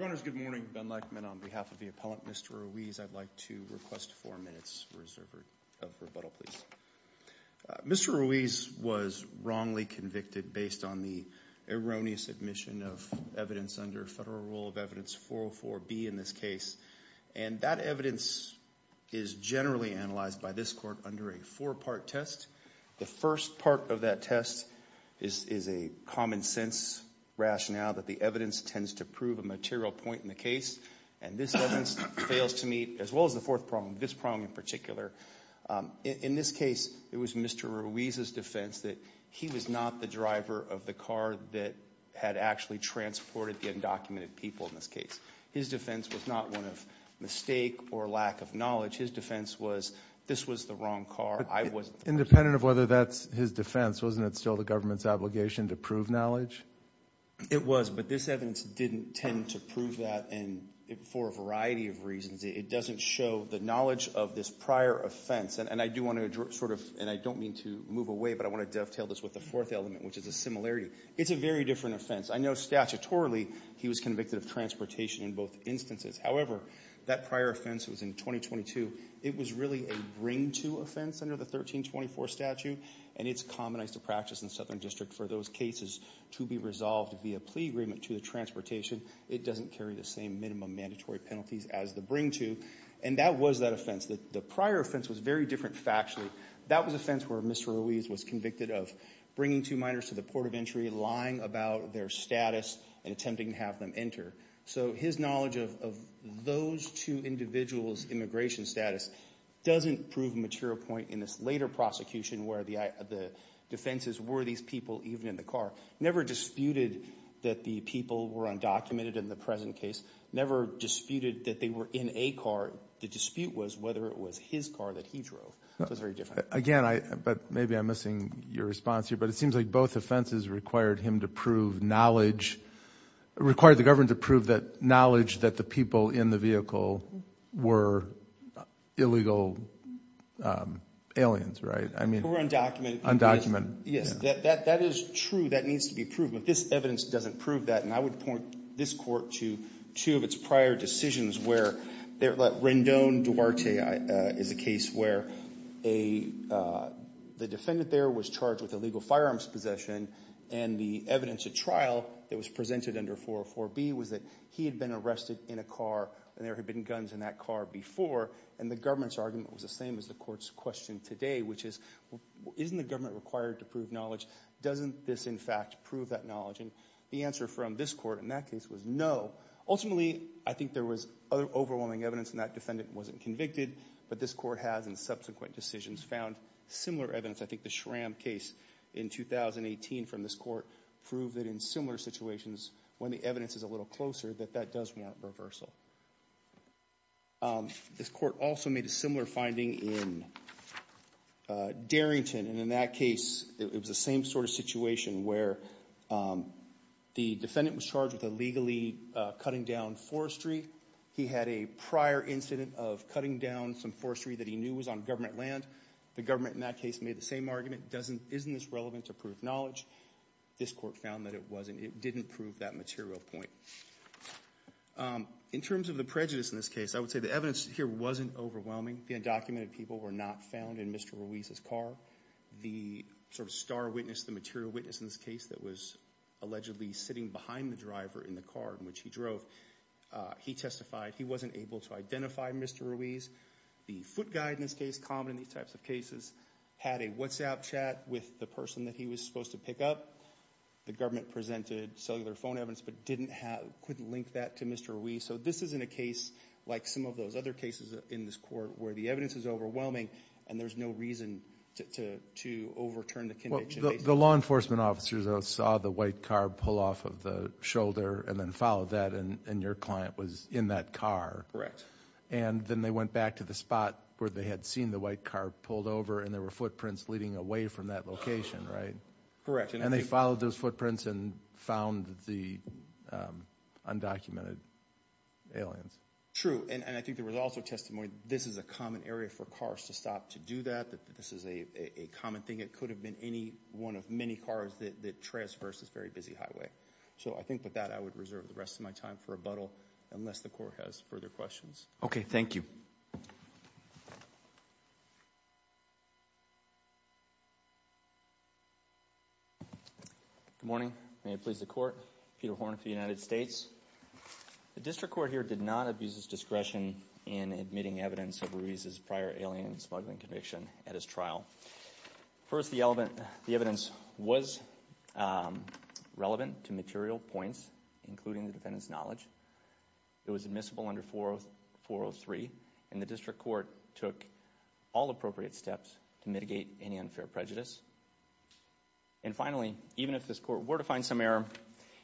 Mr. Ruiz was wrongly convicted based on the erroneous admission of evidence under Federal Rule of Evidence 404B in this case, and that evidence is generally analyzed by this Court under a four-part test. The first part of that test is a common-sense rationale that the evidence tends to prove a material point in the case, and this evidence fails to meet, as well as the fourth prong, this prong in particular. In this case, it was Mr. Ruiz's defense that he was not the driver of the car that had actually transported the undocumented people in this case. His defense was not one of mistake or lack of knowledge. His defense was this was the wrong car. Independent of whether that's his defense, wasn't it still the government's obligation to prove knowledge? It was, but this evidence didn't tend to prove that, and for a variety of reasons. It doesn't show the knowledge of this prior offense, and I do want to sort of, and I don't mean to move away, but I want to dovetail this with the fourth element, which is a similarity. It's a very different offense. I know statutorily he was convicted of transportation in both instances. However, that prior offense was in 2022. It was really a bring-to offense under the 1324 statute, and it's commonized to practice in Southern District for those cases to be resolved via plea agreement to the transportation. It doesn't carry the same minimum mandatory penalties as the bring-to, and that was that The prior offense was very different factually. That was offense where Mr. Ruiz was convicted of bringing two minors to the port of entry, lying about their status, and attempting to have them enter. So his knowledge of those two individuals' immigration status doesn't prove a material point in this later prosecution where the defenses were these people even in the car. Never disputed that the people were undocumented in the present case. Never disputed that they were in a car. The dispute was whether it was his car that he drove. So it's very different. Again, I, but maybe I'm missing your response here, but it seems like both offenses required him to prove knowledge, required the government to prove that knowledge that the people in the vehicle were illegal aliens, right? I mean. Who were undocumented. Yes. That is true. That needs to be proved. But this evidence doesn't prove that, and I would point this court to two of its prior decisions where Rendon Duarte is a case where the defendant there was charged with illegal The evidence at trial that was presented under 404B was that he had been arrested in a car and there had been guns in that car before, and the government's argument was the same as the court's question today, which is, isn't the government required to prove knowledge? Doesn't this, in fact, prove that knowledge? And the answer from this court in that case was no. Ultimately, I think there was other overwhelming evidence and that defendant wasn't convicted, but this court has in subsequent decisions found similar evidence. I think the Schramm case in 2018 from this court proved that in similar situations, when the evidence is a little closer, that that does warrant reversal. This court also made a similar finding in Darrington, and in that case, it was the same sort of situation where the defendant was charged with illegally cutting down forestry. He had a prior incident of cutting down some forestry that he knew was on government land. The government in that case made the same argument, isn't this relevant to prove knowledge? This court found that it wasn't, it didn't prove that material point. In terms of the prejudice in this case, I would say the evidence here wasn't overwhelming. The undocumented people were not found in Mr. Ruiz's car. The sort of star witness, the material witness in this case that was allegedly sitting behind the driver in the car in which he drove, he testified he wasn't able to identify Mr. Ruiz. The foot guy in this case, common in these types of cases, had a WhatsApp chat with the person that he was supposed to pick up. The government presented cellular phone evidence but couldn't link that to Mr. Ruiz. So this isn't a case like some of those other cases in this court where the evidence is overwhelming and there's no reason to overturn the conviction. The law enforcement officers saw the white car pull off of the shoulder and then followed that and your client was in that car. Correct. And then they went back to the spot where they had seen the white car pulled over and there were footprints leading away from that location, right? Correct. And they followed those footprints and found the undocumented aliens. True. And I think there was also testimony that this is a common area for cars to stop to do that, that this is a common thing. It could have been any one of many cars that transverse this very busy highway. So I think with that I would reserve the rest of my time for rebuttal unless the court has further questions. Okay, thank you. Good morning. May it please the court. Peter Horn for the United States. The district court here did not abuse its discretion in admitting evidence of Ruiz's prior alien smuggling conviction at his trial. First, the evidence was relevant to material points, including the defendant's knowledge. It was admissible under 403 and the district court took all appropriate steps to mitigate any unfair prejudice. And finally, even if this court were to find some error,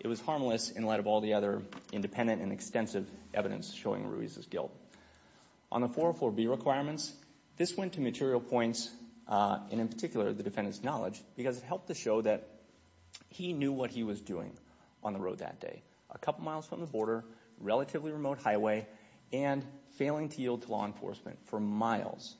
it was harmless in light of all the other independent and extensive evidence showing Ruiz's guilt. On the 404B requirements, this went to material points and in particular the defendant's knowledge because it helped to show that he knew what he was doing on the road that day. A couple miles from the border, relatively remote highway, and failing to yield to law enforcement for miles.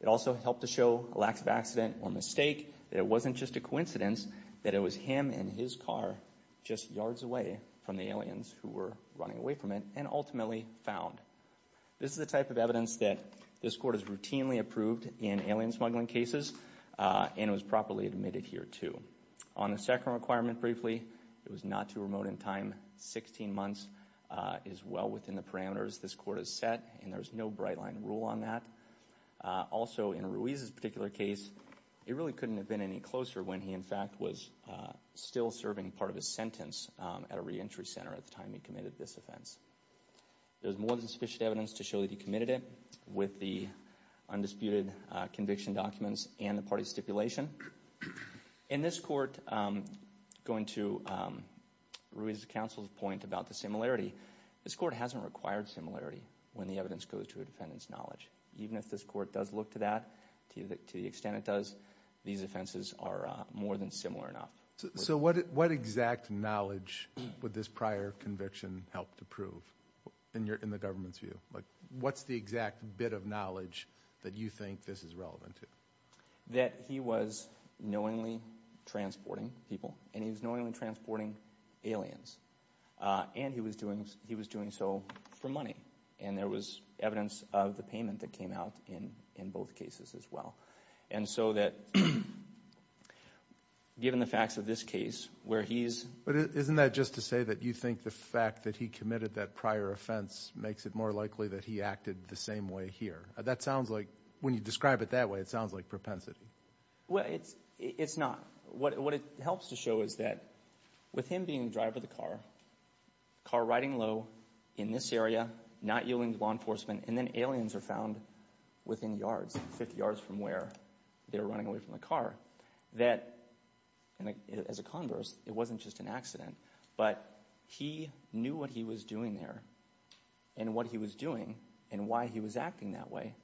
It also helped to show a lack of accident or mistake, that it wasn't just a coincidence, that it was him and his car just yards away from the aliens who were running away from it and ultimately found. This is the type of evidence that this court has routinely approved in alien smuggling cases and it was properly admitted here too. On the second requirement briefly, it was not too remote in time, 16 months is well within the parameters this court has set and there's no bright line rule on that. Also in Ruiz's particular case, it really couldn't have been any closer when he in fact was still serving part of his sentence at a re-entry center at the time he committed this offense. There's more than sufficient evidence to show that he committed it with the undisputed conviction documents and the party stipulation. In this court, going to Ruiz's counsel's point about the similarity, this court hasn't required similarity when the evidence goes to a defendant's knowledge. Even if this court does look to that, to the extent it does, these offenses are more than similar enough. So what exact knowledge would this prior conviction help to prove in the government's view? What's the exact bit of knowledge that you think this is relevant to? That he was knowingly transporting people and he was knowingly transporting aliens and he was doing so for money and there was evidence of the payment that came out in both cases as well. And so that given the facts of this case where he's... But isn't that just to say that you think the fact that he committed that prior offense makes it more likely that he acted the same way here? That sounds like, when you describe it that way, it sounds like propensity. Well, it's not. What it helps to show is that with him being the driver of the car, car riding low in this area, not yielding to law enforcement, and then aliens are found within yards, 50 yards from where they're running away from the car, that as a converse, it wasn't just an accident, but he knew what he was doing there. And what he was doing and why he was acting that way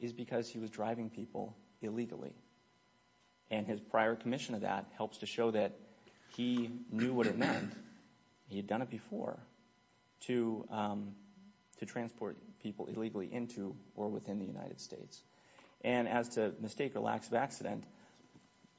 is because he was driving people illegally. And his prior commission of that helps to show that he knew what it meant, he had done it before, to transport people illegally into or within the United States. And as to mistake or lack of accident,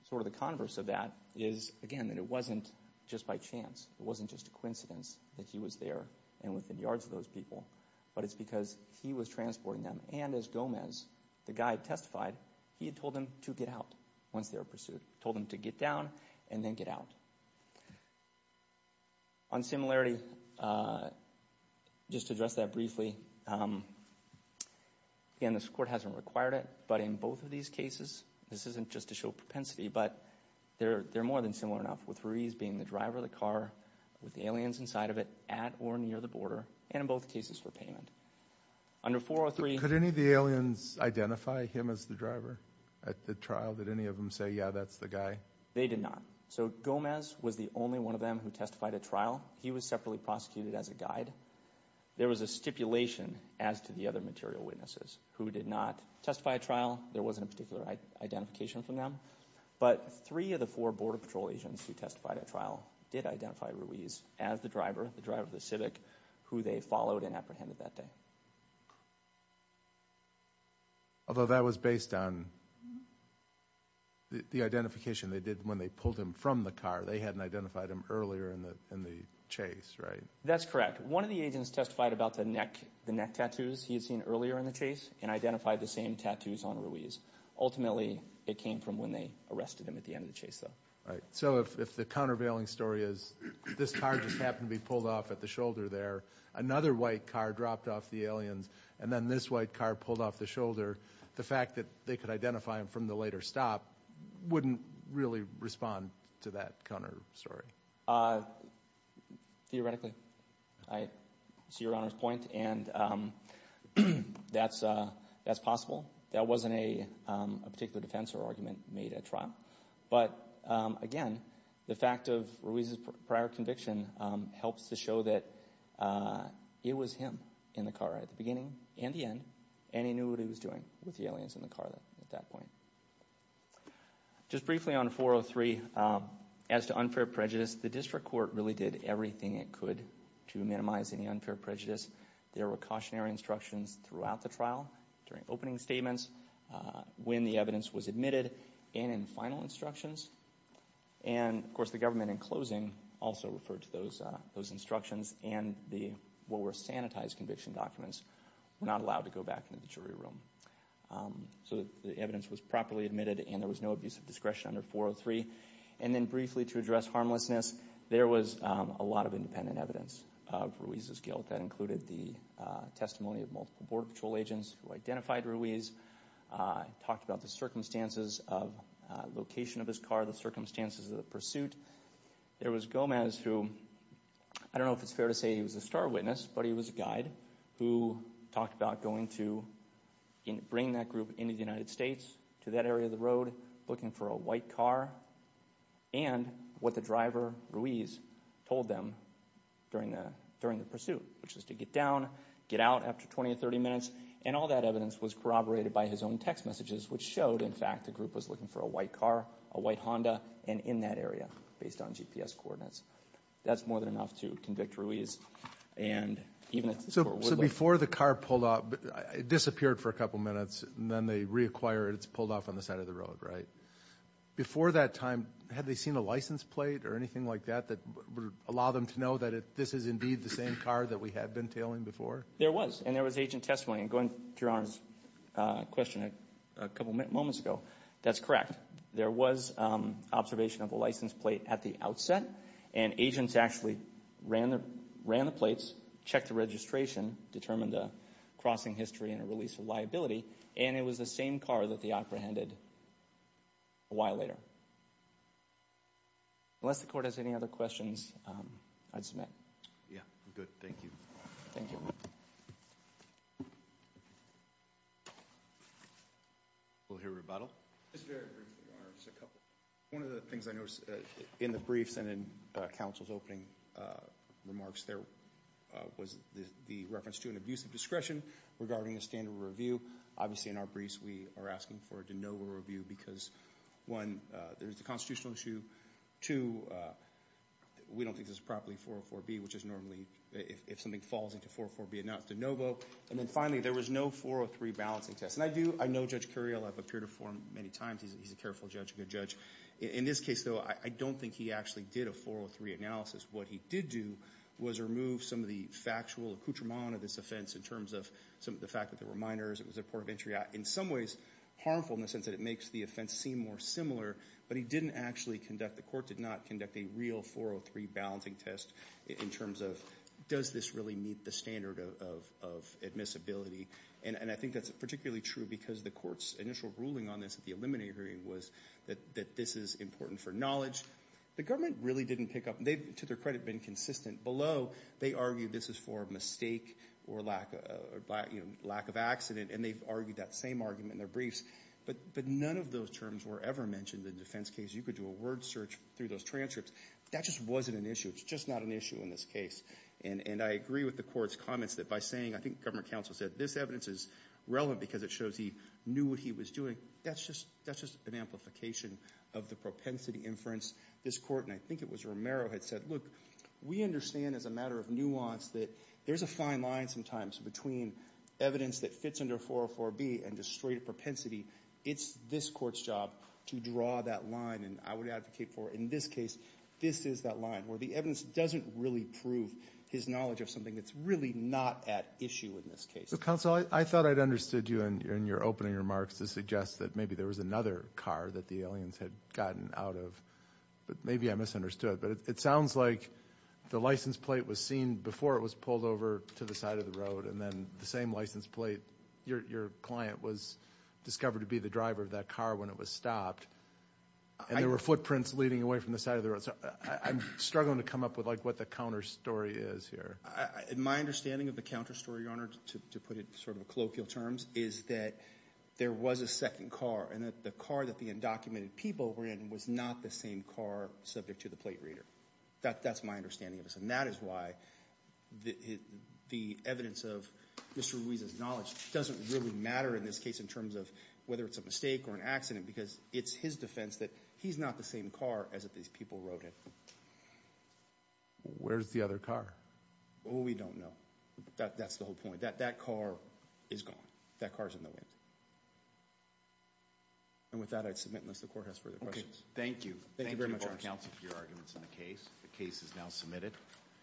sort of the converse of that is, again, that it wasn't just by chance, it wasn't just a coincidence that he was there and within yards of those people, but it's because he was transporting them. And as Gomez, the guy who testified, he had told them to get out once they were pursued. Told them to get down and then get out. On similarity, just to address that briefly, again, this court hasn't required it, but in both of these cases, this isn't just to show propensity, but they're more than similar enough, with Ruiz being the driver of the car, with the aliens inside of it, at or near the border, and in both cases for payment. Under 403... Could any of the aliens identify him as the driver at the trial? Did any of them say, yeah, that's the guy? They did not. So Gomez was the only one of them who testified at trial. He was separately prosecuted as a guide. There was a stipulation as to the other material witnesses who did not testify at trial. There wasn't a particular identification from them. But three of the four Border Patrol agents who testified at trial did identify Ruiz as the driver, the driver of the Civic, who they followed and apprehended that day. Although that was based on the identification they did when they pulled him from the car. They hadn't identified him earlier in the chase, right? That's correct. One of the agents testified about the neck tattoos he had seen earlier in the chase and identified the same tattoos on Ruiz. Ultimately, it came from when they arrested him at the end of the chase, though. So if the countervailing story is this car just happened to be pulled off at the shoulder there, another white car dropped off the aliens, and then this white car pulled off the shoulder, the fact that they could identify him from the later stop wouldn't really respond to that counter story? Theoretically. I see Your Honor's point. And that's possible. That wasn't a particular defense or argument made at trial. But again, the fact of Ruiz's prior conviction helps to show that it was him in the car at the beginning and the end, and he knew what he was doing with the aliens in the car at that point. Just briefly on 403, as to unfair prejudice, the district court really did everything it could to minimize any unfair prejudice. There were cautionary instructions throughout the trial, during opening statements, when the evidence was admitted, and in final instructions. And of course, the government in closing also referred to those instructions, and the what were sanitized conviction documents were not allowed to go back into the jury room. So the evidence was properly admitted, and there was no abuse of discretion under 403. And then briefly to address harmlessness, there was a lot of independent evidence of Ruiz's guilt. That included the testimony of multiple Border Patrol agents who identified Ruiz, talked about the circumstances of location of his car, the circumstances of the pursuit. There was Gomez who, I don't know if it's fair to say he was a star witness, but he was a guide who talked about going to bring that group into the United States, to that area of the road, looking for a white car, and what the driver, Ruiz, told them during the pursuit, which was to get down, get out after 20 or 30 minutes. And all that evidence was corroborated by his own text messages, which showed, in fact, the group was looking for a white car, a white Honda, and in that area, based on GPS coordinates. That's more than enough to convict Ruiz. And even if the court would like... So before the car pulled off, it disappeared for a couple minutes, and then they reacquire it, it's pulled off on the side of the road, right? Before that time, had they seen a license plate or anything like that that would allow them to know that this is indeed the same car that we had been tailing before? There was. And there was agent testimony. And going to Your Honor's question a couple moments ago, that's correct. There was observation of a license plate at the outset, and agents actually ran the plates, checked the registration, determined the crossing history, and a release of liability, and it was the same car that they apprehended a while later. Unless the court has any other questions, I'd submit. Yeah. Good. Thank you. Thank you. We'll hear rebuttal. Just very briefly, Your Honor. Just a couple. One of the things I noticed in the briefs and in counsel's opening remarks, there was the reference to an abuse of discretion regarding the standard of review. Obviously, in our briefs, we are asking for a de novo review because, one, there's a constitutional issue, two, we don't think this is properly 404B, which is normally if something falls into 404B, it's not de novo, and then finally, there was no 403 balancing test. And I do, I know Judge Curiel, I've appeared before him many times. He's a careful judge, a good judge. In this case, though, I don't think he actually did a 403 analysis. What he did do was remove some of the factual accoutrement of this offense in terms of some fact that there were minors, it was a port of entry, in some ways harmful in the sense that it makes the offense seem more similar, but he didn't actually conduct, the court did not conduct a real 403 balancing test in terms of does this really meet the standard of admissibility. And I think that's particularly true because the court's initial ruling on this at the eliminating hearing was that this is important for knowledge. The government really didn't pick up, they've, to their credit, been consistent below. They argue this is for mistake or lack of accident, and they've argued that same argument in their briefs. But none of those terms were ever mentioned in the defense case. You could do a word search through those transcripts. That just wasn't an issue. It's just not an issue in this case. And I agree with the court's comments that by saying, I think government counsel said, this evidence is relevant because it shows he knew what he was doing. That's just an amplification of the propensity inference. This court, and I think it was Romero, had said, look, we understand as a matter of nuance that there's a fine line sometimes between evidence that fits under 404B and just straight propensity. It's this court's job to draw that line, and I would advocate for, in this case, this is that line where the evidence doesn't really prove his knowledge of something that's really not at issue in this case. So, counsel, I thought I'd understood you in your opening remarks to suggest that maybe there was another car that the aliens had gotten out of. Maybe I misunderstood, but it sounds like the license plate was seen before it was pulled over to the side of the road, and then the same license plate, your client was discovered to be the driver of that car when it was stopped, and there were footprints leading away from the side of the road. So I'm struggling to come up with what the counter story is here. My understanding of the counter story, Your Honor, to put it sort of in colloquial terms, is that there was a second car, and that the car that the undocumented people were in was not the same car subject to the plate reader. That's my understanding of this. And that is why the evidence of Mr. Ruiz's knowledge doesn't really matter in this case in terms of whether it's a mistake or an accident, because it's his defense that he's not the same car as that these people rode in. Where's the other car? We don't know. That's the whole point. That car is gone. That car's in the wind. And with that, I'd submit unless the Court has further questions. Thank you. Thank you very much, Your Honor. Thank you, counsel, for your arguments in the case. The case is now submitted.